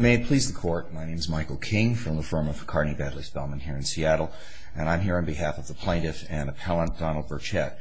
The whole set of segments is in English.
May it please the court, my name is Michael King from the firm of McCartney Bentley Spellman here in Seattle and I'm here on behalf of the plaintiff and appellant Donald Burchett.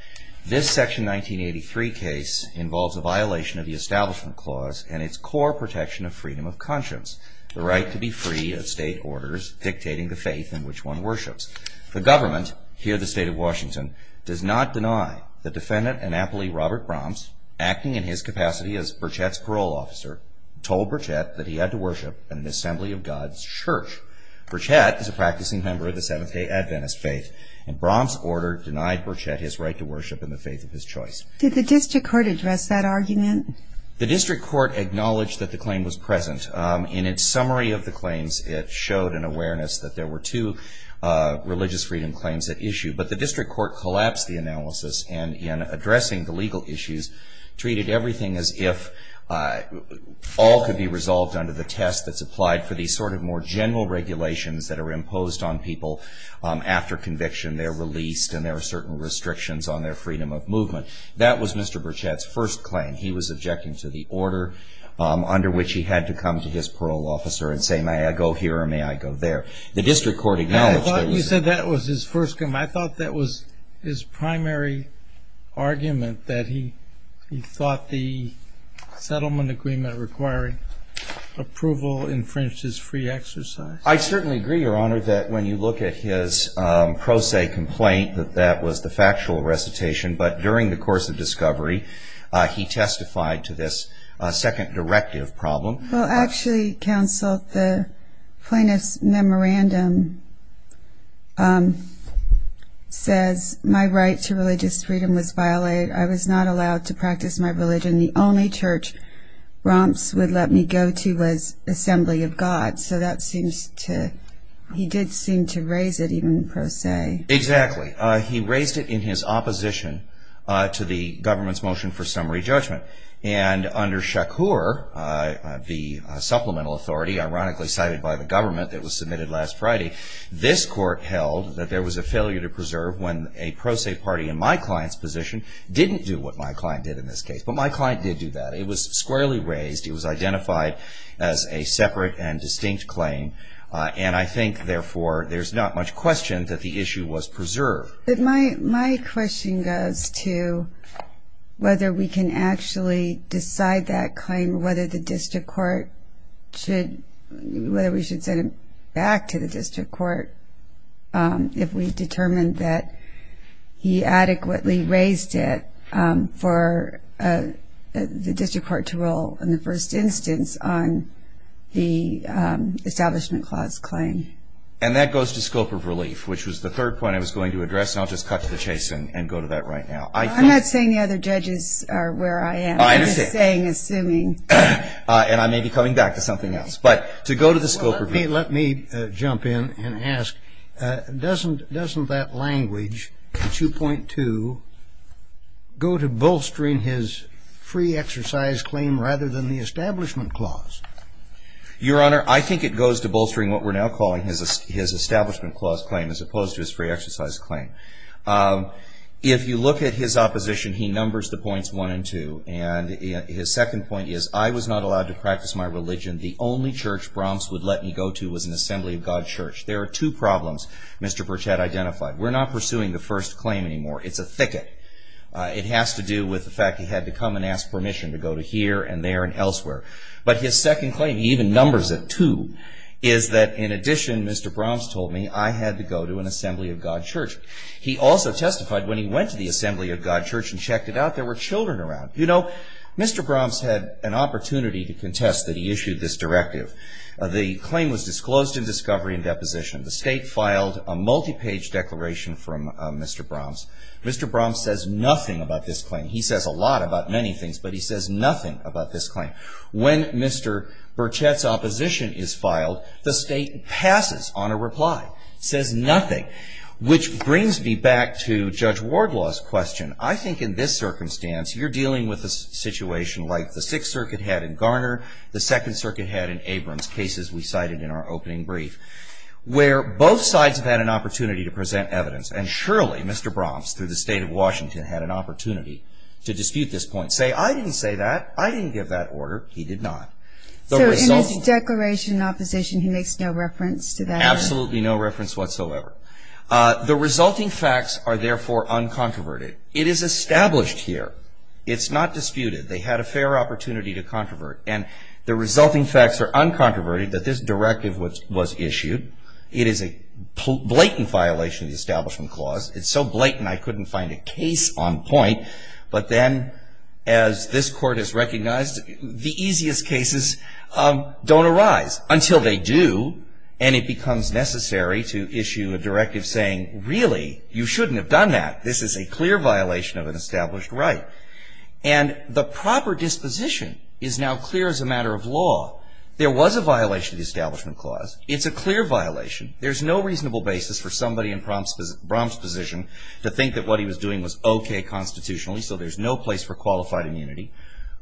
This section 1983 case involves a violation of the Establishment Clause and its core protection of freedom of conscience, the right to be free of state orders dictating the faith in which one worships. The government, here the state of Washington, does not deny the defendant Annapolis Robert Bromps, acting in his capacity as Burchett's parole officer, told Burchett that he had to worship in the Assembly of God's Church. Burchett is a practicing member of the Seventh-day Adventist faith and Bromps' order denied Burchett his right to worship in the faith of his choice. Did the district court address that argument? The district court acknowledged that the claim was present. In its summary of the claims it showed an awareness that there were two religious freedom claims at issue but the district court collapsed the All could be resolved under the test that's applied for these sort of more general regulations that are imposed on people after conviction. They're released and there are certain restrictions on their freedom of movement. That was Mr. Burchett's first claim. He was objecting to the order under which he had to come to his parole officer and say, may I go here or may I go there? The district court acknowledged that was. I thought you said that was his first claim. I thought that was his primary argument that he thought the settlement agreement requiring approval infringed his free exercise. I certainly agree your honor that when you look at his pro se complaint that that was the factual recitation but during the course of discovery he testified to this second directive problem. Well actually counsel the plaintiff's memorandum says my right to religious freedom was violated. I was not allowed to practice my religion. The only church Romps would let me go to was Assembly of God so that seems to he did seem to raise it even pro se. Exactly he raised it in his opposition to the government's motion for summary judgment and under Shakur, the supplemental authority ironically cited by the government that was submitted last Friday, this court held that there was a failure to preserve when a pro se party in my client's position didn't do what my client did in this case but my client did do that. It was squarely raised. It was identified as a separate and distinct claim and I think therefore there's not much question that the issue was preserved. My question goes to whether we can actually decide that claim whether the district court should whether we should send it back to the district court if we determined that he adequately raised it for the district court to roll in the first instance on the establishment clause claim. And that goes to scope of course not just cut to the chase and go to that right now. I'm not saying the other judges are where I am. I'm just saying assuming. And I may be coming back to something else but to go to the scope of. Let me jump in and ask doesn't that language 2.2 go to bolstering his free exercise claim rather than the establishment clause? Your honor I think it goes to bolstering what we're now calling his establishment clause claim as opposed to his free exercise claim. If you look at his opposition he numbers the points 1 and 2 and his second point is I was not allowed to practice my religion. The only church Brahms would let me go to was an assembly of God church. There are two problems Mr. Burch had identified. We're not pursuing the first claim anymore. It's a thicket. It has to do with the fact he had to come and ask permission to go to here and there and elsewhere. But his second claim he even numbers it too is that in addition Mr. Brahms told me I had to go to an assembly of God church. He also testified when he went to the assembly of God church and checked it out there were children around. You know Mr. Brahms had an opportunity to contest that he issued this directive. The claim was disclosed in discovery and deposition. The state filed a multi-page declaration from Mr. Brahms. Mr. Brahms says nothing about this claim. He says a lot about many things but he says nothing about this claim. When Mr. Burchett's opposition is filed the state passes on a reply. Says nothing. Which brings me back to Judge Wardlaw's question. I think in this circumstance you're dealing with a situation like the 6th Circuit had in Garner, the 2nd Circuit had in Abrams, cases we cited in our opening brief. Where both sides have had an opportunity to present evidence and surely Mr. Brahms through the state of Washington had an opportunity to dispute this point. Say I didn't say that. I didn't give that order. He did not. So in this declaration in opposition he makes no reference to that? Absolutely no reference whatsoever. The resulting facts are therefore uncontroverted. It is established here. It's not disputed. They had a fair opportunity to controvert. And the resulting facts are uncontroverted that this directive was issued. It is a blatant violation of the Establishment Clause. It's so blatant I couldn't find a case on point. But then, as this Court has recognized, the easiest cases don't arise until they do. And it becomes necessary to issue a directive saying, really, you shouldn't have done that. This is a clear violation of an established right. And the proper disposition is now clear as a matter of law. There was a violation of the Establishment Clause. It's a clear violation. There's no reasonable basis for somebody in Trump's position to think that what he was doing was okay constitutionally, so there's no place for qualified immunity.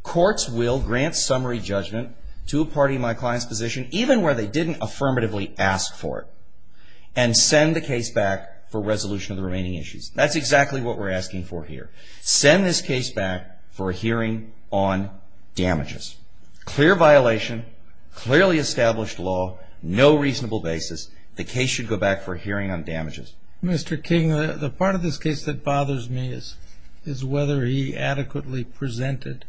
Courts will grant summary judgment to a party in my client's position, even where they didn't affirmatively ask for it, and send the case back for resolution of the remaining issues. That's exactly what we're asking for here. Send this case back for a hearing on damages. Clear violation, clearly established law, no reasonable basis. The case should go back for a hearing on damages. Mr. King, the part of this case that bothers me is whether he adequately presented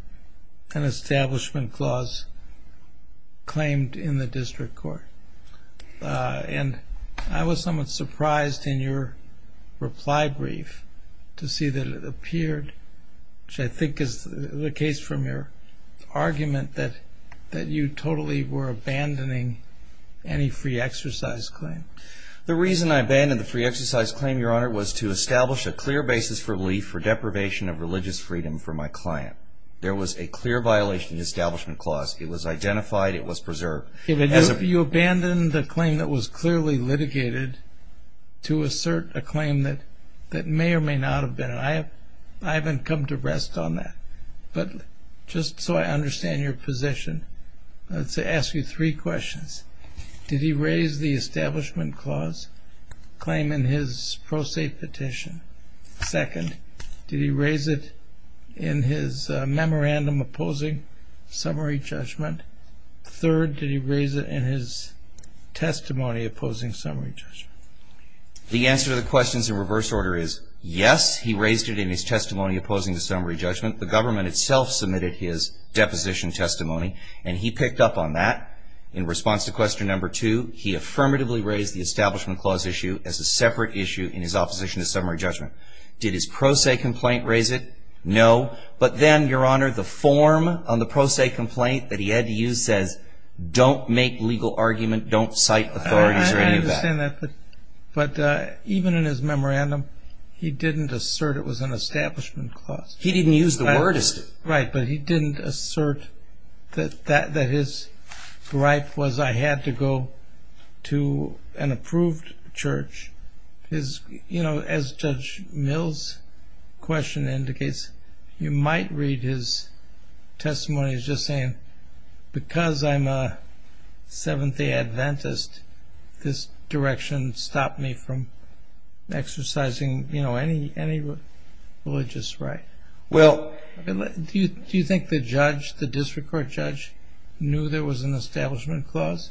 an Establishment Clause claimed in the District Court. And I was somewhat surprised in your reply brief to see that it appeared, which I think is the case from your argument, that you totally were abandoning any free exercise claim. The reason I abandoned the free exercise claim, Your Honor, was to establish a clear basis for relief for deprivation of religious freedom for my client. There was a clear violation of the Establishment Clause. It was identified. It was preserved. You abandoned a claim that was clearly litigated to assert a claim that may or may not have been. I haven't come to rest on that. But just so I understand your position, let's ask you three questions. Did he raise the Establishment Clause claim in his pro se petition? Second, did he raise it in his memorandum opposing summary judgment? Third, did he raise it in his testimony opposing summary judgment? The answer to the questions in reverse order is yes, he raised it in his testimony opposing the summary judgment. The government itself submitted his deposition testimony, and he picked up on that. In response to question number two, he affirmatively raised the Establishment Clause issue as a separate issue in his opposition to summary judgment. Did his pro se complaint raise it? No. But then, Your Honor, the form on the pro se complaint that he had to use says don't make legal argument, don't cite authorities or any of that. I understand that. But even in his memorandum, he didn't assert it was an Establishment Clause. He didn't use the word. Right. But he didn't assert that his gripe was I had to go to an approved church. As Judge Mills' question indicates, you might read his testimony as just saying, because I'm a Seventh-day Adventist, this direction stopped me from exercising any religious right. Well. Do you think the judge, the district court judge, knew there was an Establishment Clause?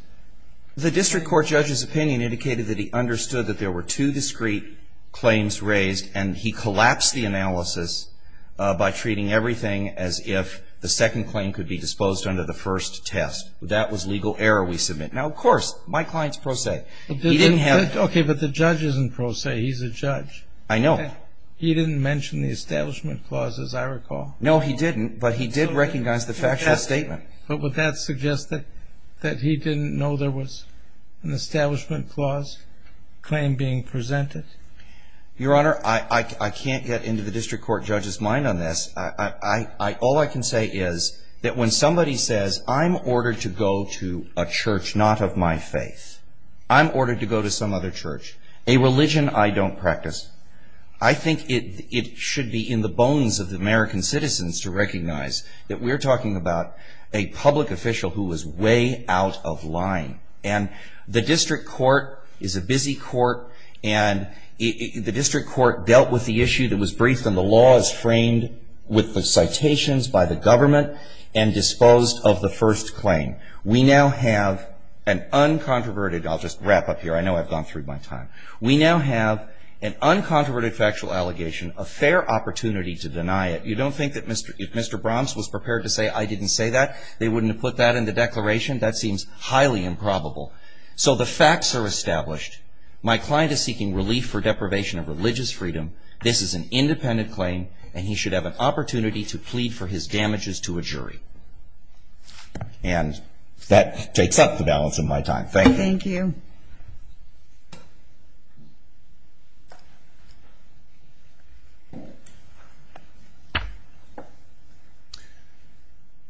The district court judge's opinion indicated that he understood that there were two discrete claims raised, and he collapsed the analysis by treating everything as if the second claim could be disposed under the first test. That was legal error we submit. Now, of course, my client's pro se. He didn't have. Okay. But the judge isn't pro se. He's a judge. I know. He didn't mention the Establishment Clause, as I recall. No, he didn't, but he did recognize the factual statement. But would that suggest that he didn't know there was an Establishment Clause claim being presented? Your Honor, I can't get into the district court judge's mind on this. All I can say is that when somebody says, I'm ordered to go to a church not of my faith, I'm ordered to go to some other church, a religion I don't practice, I think it should be in the bones of the American citizens to recognize that we're talking about a public official who is way out of line. And the district court is a busy court, and the district court dealt with the issue that was briefed, and the law is framed with the citations by the government and disposed of the first claim. We now have an uncontroverted, I'll just wrap up here. I know I've gone through my time. We now have an uncontroverted factual allegation, a fair opportunity to deny it. You don't think that if Mr. Bromps was prepared to say I didn't say that, they wouldn't have put that in the declaration? That seems highly improbable. So the facts are established. My client is seeking relief for deprivation of religious freedom. This is an independent claim, and he should have an opportunity to plead for his damages to a jury. And that takes up the balance of my time. Thank you. Thank you.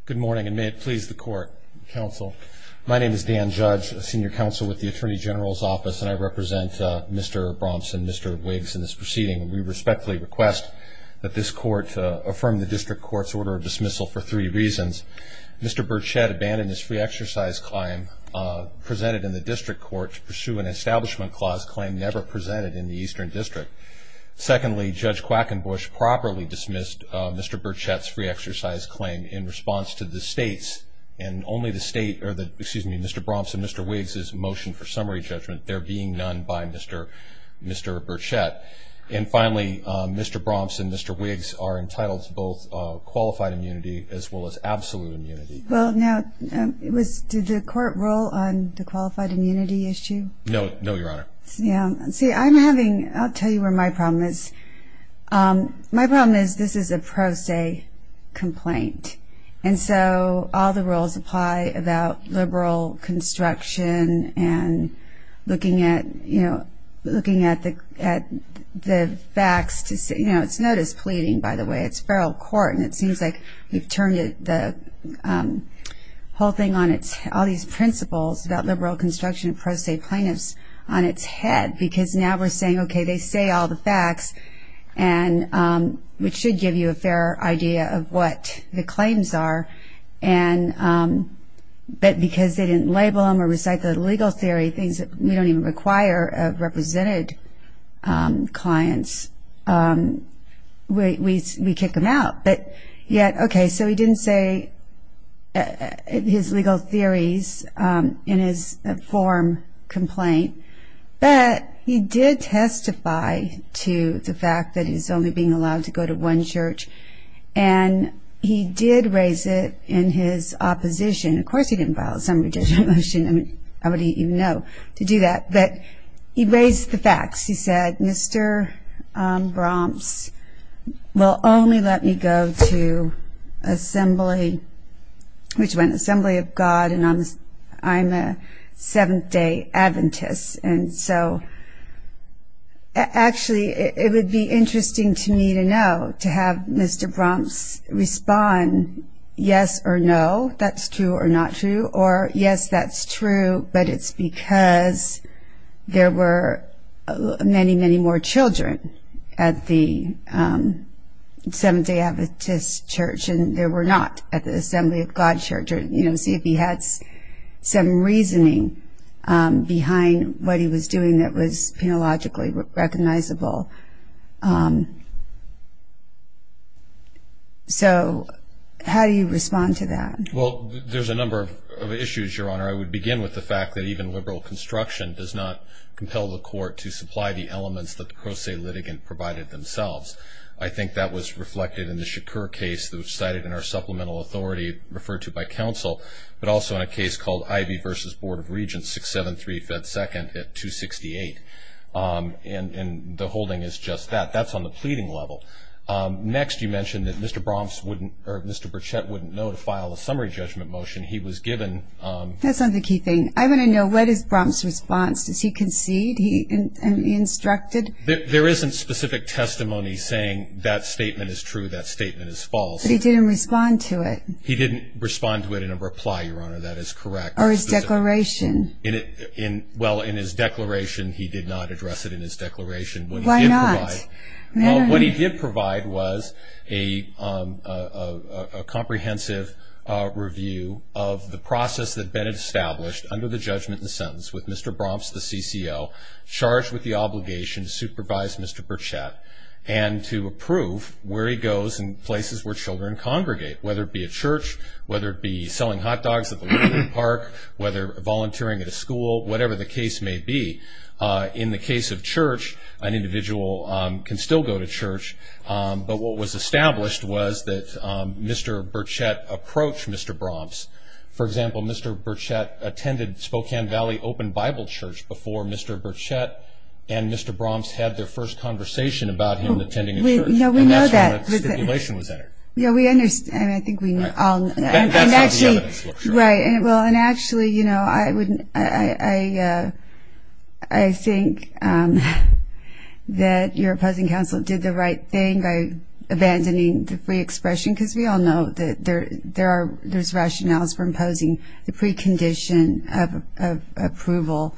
Good morning, and may it please the court, counsel. My name is Dan Judge, a senior counsel with the Attorney General's Office, and I represent Mr. Bromps and Mr. Wiggs in this proceeding. We respectfully request that this court affirm the district court's order of Mr. Burchett abandoned his free exercise claim presented in the district court to pursue an establishment clause claim never presented in the Eastern District. Secondly, Judge Quackenbush properly dismissed Mr. Burchett's free exercise claim in response to the state's, and only the state, or the, excuse me, Mr. Bromps and Mr. Wiggs's motion for summary judgment. There being none by Mr. Burchett. And finally, Mr. Bromps and Mr. Wiggs are entitled to both qualified immunity as well as absolute immunity. Well, now, it was, did the court rule on the qualified immunity issue? No, no, Your Honor. Yeah, see, I'm having, I'll tell you where my problem is. My problem is, this is a pro se complaint. And so, all the rules apply about liberal construction and looking at, you know, looking at the, at the facts to say, you know, it's not as pleading, by the way, it's feral court. And it seems like we've turned it, the whole thing on its, all these principles about liberal construction and pro se plaintiffs on its head. Because now we're saying, okay, they say all the facts and which should give you a fair idea of what the claims are. And but because they didn't label them or recite the legal theory, things that we don't even require of represented clients, we, we, we kick them out. But yet, okay, so he didn't say his legal theories in his form complaint. But he did testify to the fact that he's only being allowed to go to one church. And he did raise it in his opposition. Of course, he didn't file a summary judicial motion. I mean, how would he even know to do that? But he raised the facts. He said, Mr. Bromps will only let me go to assembly, which went Assembly of God, and I'm a Seventh Day Adventist. And so, actually, it would be interesting to me to know, to have Mr. Bromps respond yes or no, that's true or not true. Or yes, that's true, but it's because there were many, many more children at the Seventh Day Adventist church. And they were not at the Assembly of God church. Or, you know, see if he had some reasoning behind what he was doing that was penologically recognizable. So, how do you respond to that? Well, there's a number of issues, Your Honor. I would begin with the fact that even liberal construction does not compel the court to supply the elements that the pro se litigant provided themselves. I think that was reflected in the Shakur case that was cited in our supplemental authority referred to by counsel. But also in a case called Ivey versus Board of Regents 673 Fed Second at 268. And the holding is just that. That's on the pleading level. Next, you mentioned that Mr. Bromps wouldn't, or Mr. Bromps, in his summary judgment motion, he was given- That's not the key thing. I want to know, what is Bromps' response? Does he concede? He instructed? There isn't specific testimony saying that statement is true, that statement is false. But he didn't respond to it. He didn't respond to it in a reply, Your Honor, that is correct. Or his declaration. Well, in his declaration, he did not address it in his declaration. Why not? What he did provide was a comprehensive review of the process that had been established under the judgment and sentence with Mr. Bromps, the CCO, charged with the obligation to supervise Mr. Burchett and to approve where he goes and places where children congregate, whether it be a church, whether it be selling hot dogs at the park, whether volunteering at a school, whatever the case may be. In the case of church, an individual can still go to church. But what was established was that Mr. Burchett approached Mr. Bromps. For example, Mr. Burchett attended Spokane Valley Open Bible Church before Mr. Burchett and Mr. Bromps had their first conversation about him attending a church. No, we know that. And that's when the stipulation was entered. Yeah, we understand. I think we know. That's not the evidence. Right. Well, and actually, I think that your opposing counsel did the right thing by abandoning the free expression, because we all know that there's rationales for imposing the precondition of approval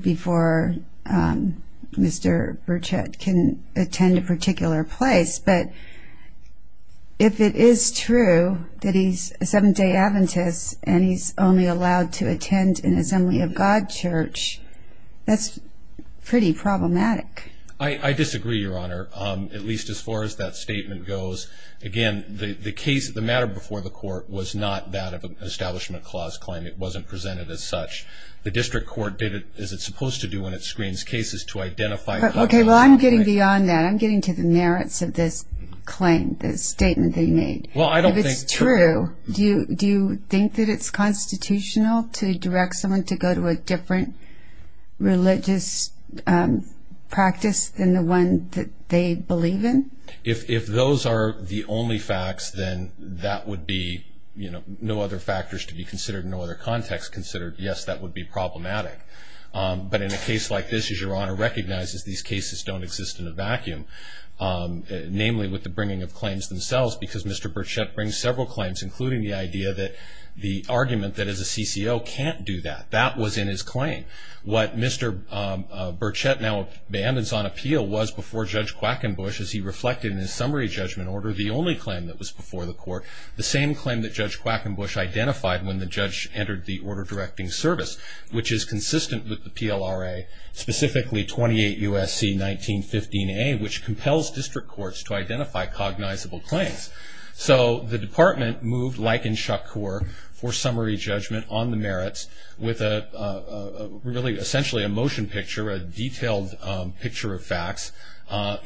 before Mr. Burchett can attend a particular place. But if it is true that he's a Seventh-day Adventist and he's only allowed to attend an Assembly of God church, that's pretty problematic. I disagree, Your Honor, at least as far as that statement goes. Again, the matter before the court was not that of an establishment clause claim. It wasn't presented as such. The district court did it, as it's supposed to do when it screens cases, to identify- OK, well, I'm getting beyond that. I'm getting to the merits of this claim, this statement that you made. Well, I don't think- If it's true, do you think that it's constitutional to direct someone to go to a different religious practice than the one that they believe in? If those are the only facts, then that would be no other factors to be considered, no other context considered. Yes, that would be problematic. But in a case like this, as Your Honor recognizes, these cases don't exist in a vacuum, namely with the bringing of claims themselves, because Mr. Burchett brings several claims, including the idea that the argument that as a CCO can't do that, that was in his claim. What Mr. Burchett now abandons on appeal was before Judge Quackenbush, as he reflected in his summary judgment order, the only claim that was before the court, the same claim that Judge Quackenbush identified when the judge entered the order directing service, which is consistent with the PLRA, specifically 28 U.S.C. 1915A, which compels district courts to identify cognizable claims. So the department moved like in Shakur for summary judgment on the merits with a really essentially a motion picture, a detailed picture of facts,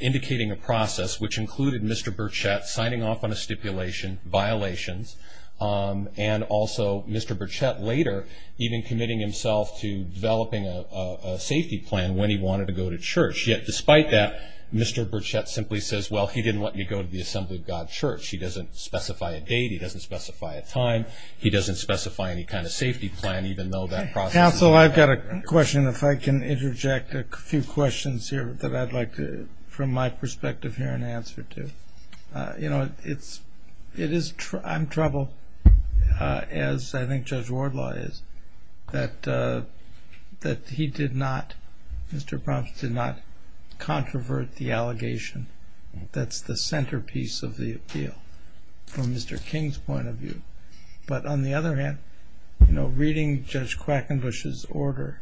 indicating a process which included Mr. Burchett signing off on a stipulation, violations, and also Mr. Burchett later even committing himself to developing a safety plan when he wanted to go to church. Yet despite that, Mr. Burchett simply says, well, he didn't want you to go to the Assembly of God church. He doesn't specify a date. He doesn't specify a time. He doesn't specify any kind of safety plan, even though that process- Counsel, I've got a question. If I can interject a few questions here that I'd like to, from my perspective, hear an answer to. You know, it is, I'm troubled, as I think Judge Wardlaw is, that he did not, Mr. Bromps, did not controvert the allegation. That's the centerpiece of the appeal from Mr. King's point of view. But on the other hand, you know, reading Judge Quackenbush's order,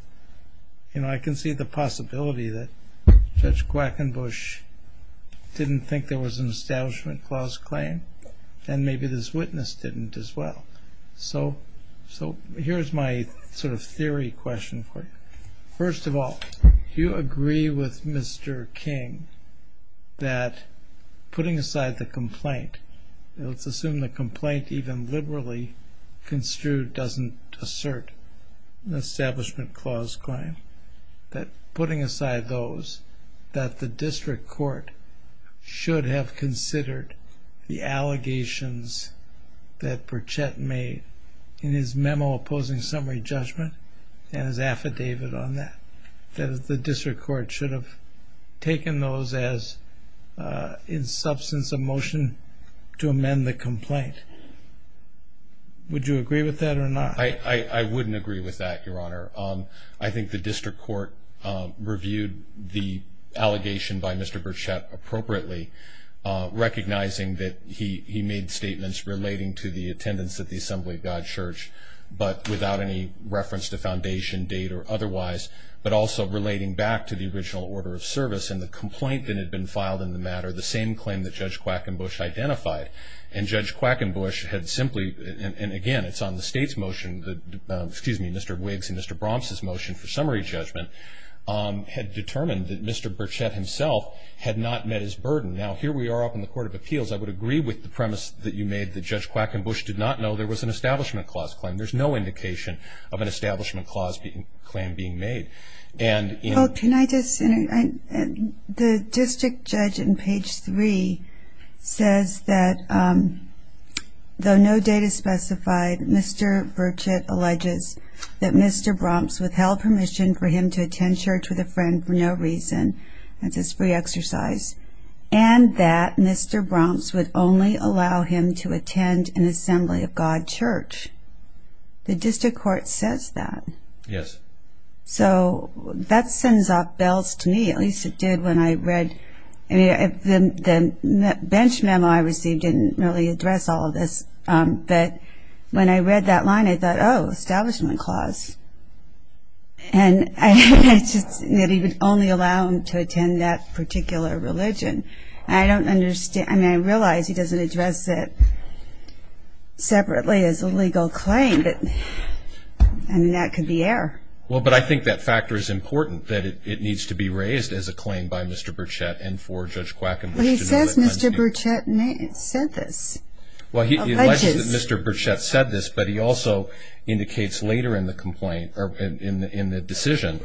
you know, I can see the possibility that Judge Quackenbush didn't think there was an establishment clause claim, and maybe this witness didn't as well. So here's my sort of theory question for you. First of all, do you agree with Mr. King that putting aside the complaint, let's assume the complaint even liberally construed doesn't assert an establishment clause claim, that putting aside those, that Burchette made in his memo opposing summary judgment and his affidavit on that, that the district court should have taken those as in substance of motion to amend the complaint. Would you agree with that or not? I wouldn't agree with that, Your Honor. Relating to the attendance at the Assembly of God Church, but without any reference to foundation date or otherwise, but also relating back to the original order of service and the complaint that had been filed in the matter, the same claim that Judge Quackenbush identified. And Judge Quackenbush had simply, and again it's on the State's motion, excuse me, Mr. Wiggs and Mr. Bromps' motion for summary judgment, had determined that Mr. Burchette himself had not met his burden. Now here we are up in the Court of Appeals, I would agree with the premise that you made that Judge Quackenbush did not know there was an establishment clause claim. There's no indication of an establishment clause claim being made. And in- Can I just, the district judge in page three says that though no date is specified, Mr. Burchette alleges that Mr. Bromps withheld permission for him to attend church with a friend for no reason. That's his free exercise. And that Mr. Bromps would only allow him to attend an assembly of God church. The district court says that. Yes. So that sends off bells to me, at least it did when I read, I mean, the bench memo I received didn't really address all of this. But when I read that line, I thought, oh, establishment clause. And I just, that he would only allow him to attend that particular religion. I don't understand, I mean, I realize he doesn't address it separately as a legal claim, but, I mean, that could be error. Well, but I think that factor is important, that it needs to be raised as a claim by Mr. Burchette and for Judge Quackenbush to know that- Well, he says Mr. Burchette said this. Well, he alleges that Mr. Burchette said this, but he also indicates later in the complaint, or in the decision,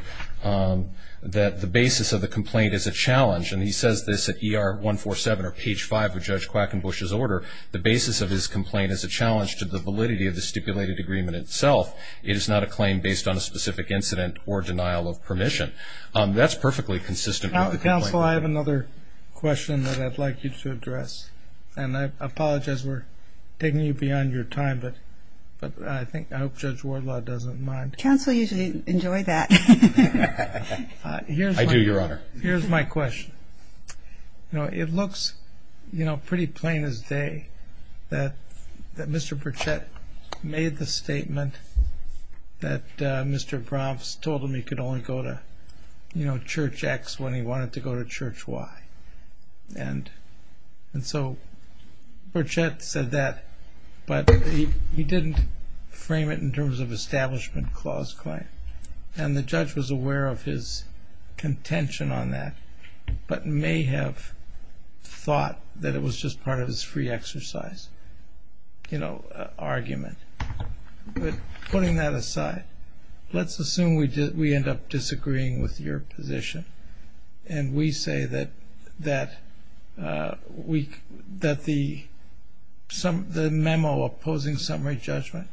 that the basis of the complaint is a challenge. And he says this at ER 147 or page 5 of Judge Quackenbush's order, the basis of his complaint is a challenge to the validity of the stipulated agreement itself. It is not a claim based on a specific incident or denial of permission. That's perfectly consistent with the complaint. Counsel, I have another question that I'd like you to address. And I apologize, we're taking you beyond your time, but I think, if Judge Wardlaw doesn't mind. Counsel usually enjoy that. I do, Your Honor. Here's my question. You know, it looks, you know, pretty plain as day that Mr. Burchette made the statement that Mr. Bromps told him he could only go to, you know, Church X when he wanted to go to Church Y. And so, Burchette said that, but he didn't frame it in terms of establishment clause claim. And the judge was aware of his contention on that, but may have thought that it was just part of his free exercise, you know, argument. But putting that aside, let's assume we end up disagreeing with your position. And we say that the memo opposing summary judgment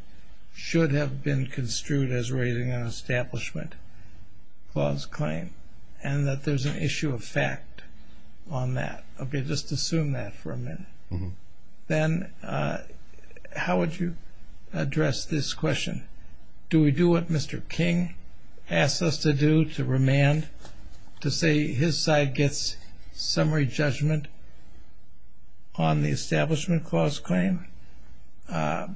should have been construed as raising an establishment clause claim. And that there's an issue of fact on that. Okay, just assume that for a minute. Then, how would you address this question? Do we do what Mr. King asked us to do, to remand, to say his side gets summary judgment on the establishment clause claim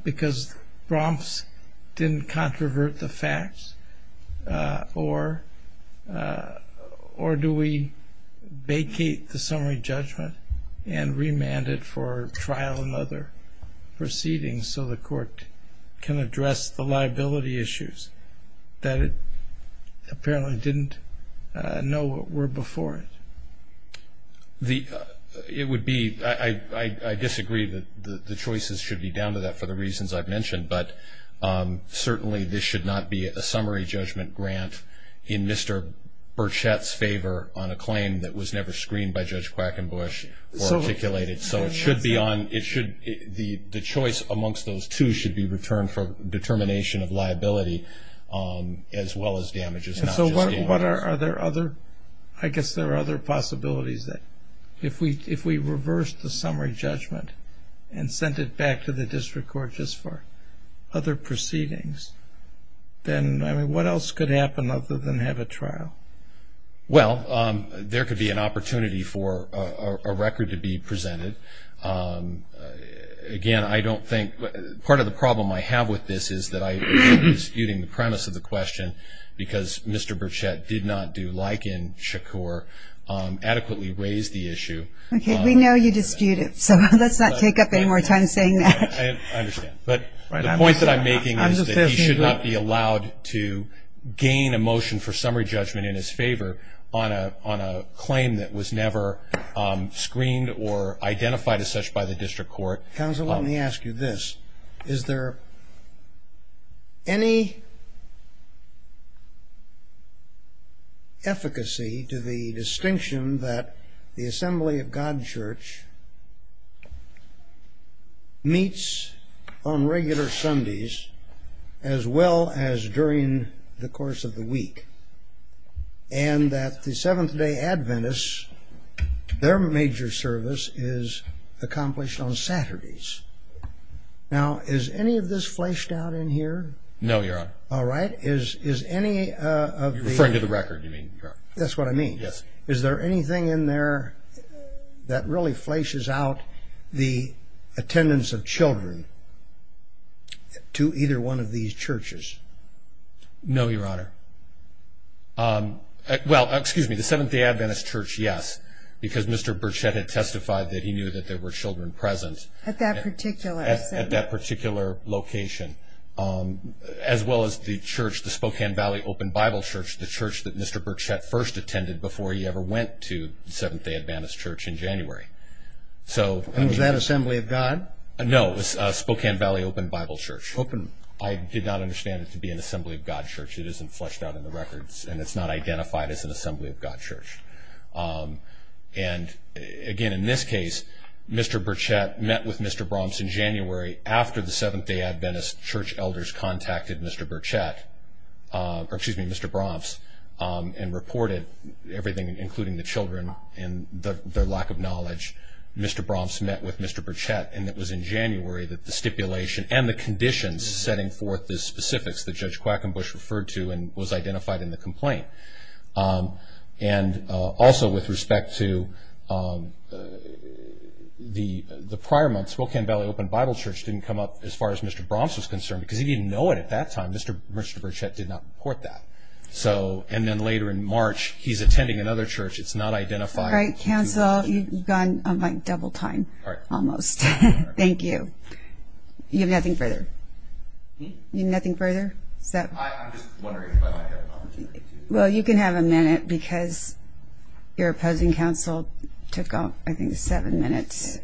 because Bromps didn't controvert the facts? Or do we vacate the summary judgment and remand it for trial and other proceedings so the court can address the liability issues that it apparently didn't know were before it? It would be, I disagree that the choices should be down to that for the reasons I've mentioned. But certainly, this should not be a summary judgment grant in Mr. Burchette's favor on a claim that was never screened by Judge Quackenbush or articulated. So it should be on, it should, the choice amongst those two should be returned for determination of liability as well as damages. And so what are, are there other, I guess there are other possibilities that if we, if we reverse the summary judgment and send it back to the district court just for other proceedings, then I mean, what else could happen other than have a trial? Well, there could be an opportunity for a record to be presented. Again, I don't think, part of the problem I have with this is that I am disputing the premise of the question because Mr. Burchette did not do like in Shakur, adequately raise the issue. Okay, we know you disputed, so let's not take up any more time saying that. I understand. But the point that I'm making is that he should not be allowed to gain a motion for summary judgment in his favor on a, on a claim that was never screened or identified as such by the district court. Counsel, let me ask you this. Is there any efficacy to the distinction that the Assembly of God Church meets on regular Sundays as well as during the course of the week? And that the Seventh Day Adventists, their major service is accomplished on Saturdays. Now, is any of this fleshed out in here? No, Your Honor. All right. Is, is any of the- You're referring to the record, you mean, Your Honor. That's what I mean. Yes. Is there anything in there that really fleshes out the attendance of children to either one of these churches? No, Your Honor. Well, excuse me. The Seventh Day Adventist Church, yes. Because Mr. Burchette had testified that he knew that there were children present. At that particular assembly. At that particular location. As well as the church, the Spokane Valley Open Bible Church, the church that Mr. Burchette first attended before he ever went to the Seventh Day Adventist Church in January. So- And was that Assembly of God? No, it was Spokane Valley Open Bible Church. Open. I did not understand it to be an Assembly of God Church. It isn't fleshed out in the records. And it's not identified as an Assembly of God Church. And again, in this case, Mr. Burchette met with Mr. Bromps in January after the Seventh Day Adventist Church elders contacted Mr. Burchette. Or excuse me, Mr. Bromps, and reported everything including the children and their lack of knowledge, Mr. Bromps met with Mr. Burchette. And it was in January that the stipulation and the conditions setting forth the specifics that Judge Quackenbush referred to and was identified in the complaint. And also with respect to the prior months, Spokane Valley Open Bible Church didn't come up as far as Mr. Bromps was concerned. Because he didn't know it at that time. Mr. Burchette did not report that. So, and then later in March, he's attending another church. It's not identified. All right, counsel, you've gone on like double time. All right. Almost. Thank you. You have nothing further? You have nothing further? Is that- I'm just wondering if I might have an opportunity to- Well, you can have a minute, because your opposing counsel took, I think, seven minutes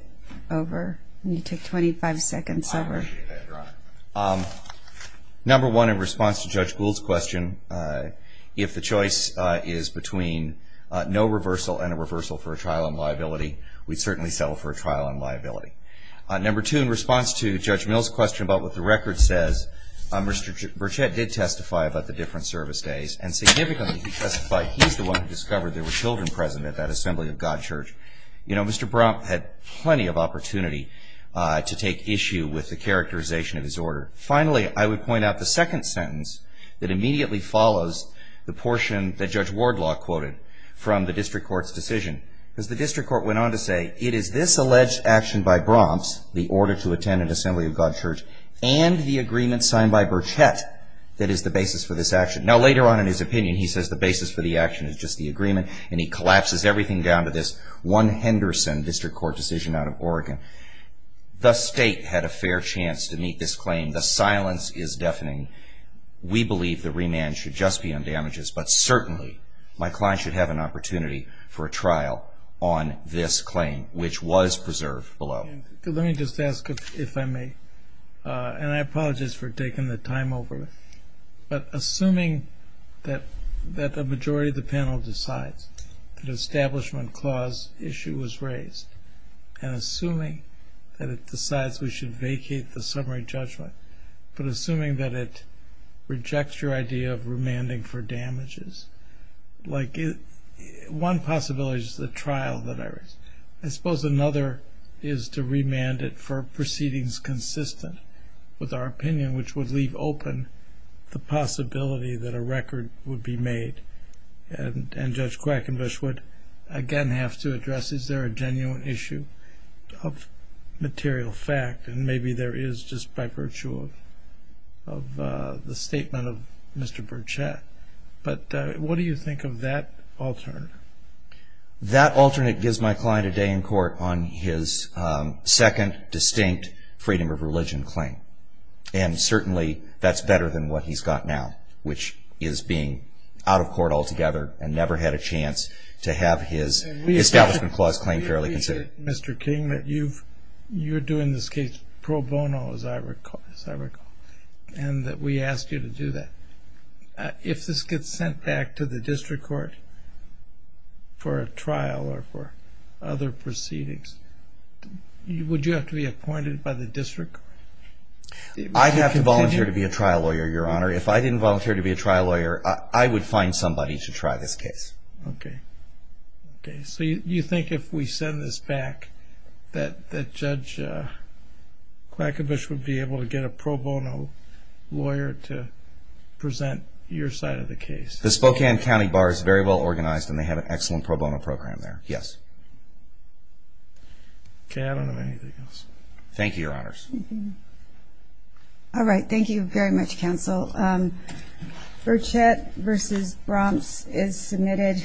over, and you took 25 seconds over. I appreciate that, Your Honor. Number one, in response to Judge Gould's question, if the choice is between no reversal and a reversal for a trial on liability, we'd certainly settle for a trial on liability. Number two, in response to Judge Mill's question about what the record says, Mr. Burchette did testify about the different service days. And significantly, he testified he's the one who discovered there were children present at that Assembly of God church. You know, Mr. Bromp had plenty of opportunity to take issue with the characterization of his order. Finally, I would point out the second sentence that immediately follows the portion that Judge Wardlaw quoted from the district court's decision. Because the district court went on to say, it is this alleged action by Bromp's, the order to attend an Assembly of God church, and the agreement signed by Burchette that is the basis for this action. Now, later on in his opinion, he says the basis for the action is just the agreement, and he collapses everything down to this one Henderson district court decision out of Oregon. The state had a fair chance to meet this claim. The silence is deafening. We believe the remand should just be on damages. But certainly, my client should have an opportunity for a trial on this claim, which was preserved below. Let me just ask, if I may, and I apologize for taking the time over. But assuming that the majority of the panel decides that establishment clause issue was raised, and assuming that it decides we should vacate the summary judgment. But assuming that it rejects your idea of remanding for damages. Like, one possibility is the trial that I raised. I suppose another is to remand it for proceedings consistent with our opinion, which would leave open the possibility that a record would be made. And Judge Quackenbush would again have to address, is there a genuine issue of material fact? And maybe there is, just by virtue of the statement of Mr. Burchett. But what do you think of that alternate? That alternate gives my client a day in court on his second, distinct freedom of religion claim. And certainly, that's better than what he's got now, which is being out of court altogether, and never had a chance to have his establishment clause claim fairly considered. Mr. King, you're doing this case pro bono, as I recall. And that we asked you to do that. If this gets sent back to the district court for a trial or for other proceedings, would you have to be appointed by the district? If I didn't volunteer to be a trial lawyer, I would find somebody to try this case. Okay, so you think if we send this back, that Judge Quackenbush would be able to get a pro bono lawyer to present your side of the case? The Spokane County Bar is very well organized, and they have an excellent pro bono program there, yes. Okay, I don't have anything else. Thank you, your honors. All right, thank you very much, counsel. Burchett v. Bromps is submitted.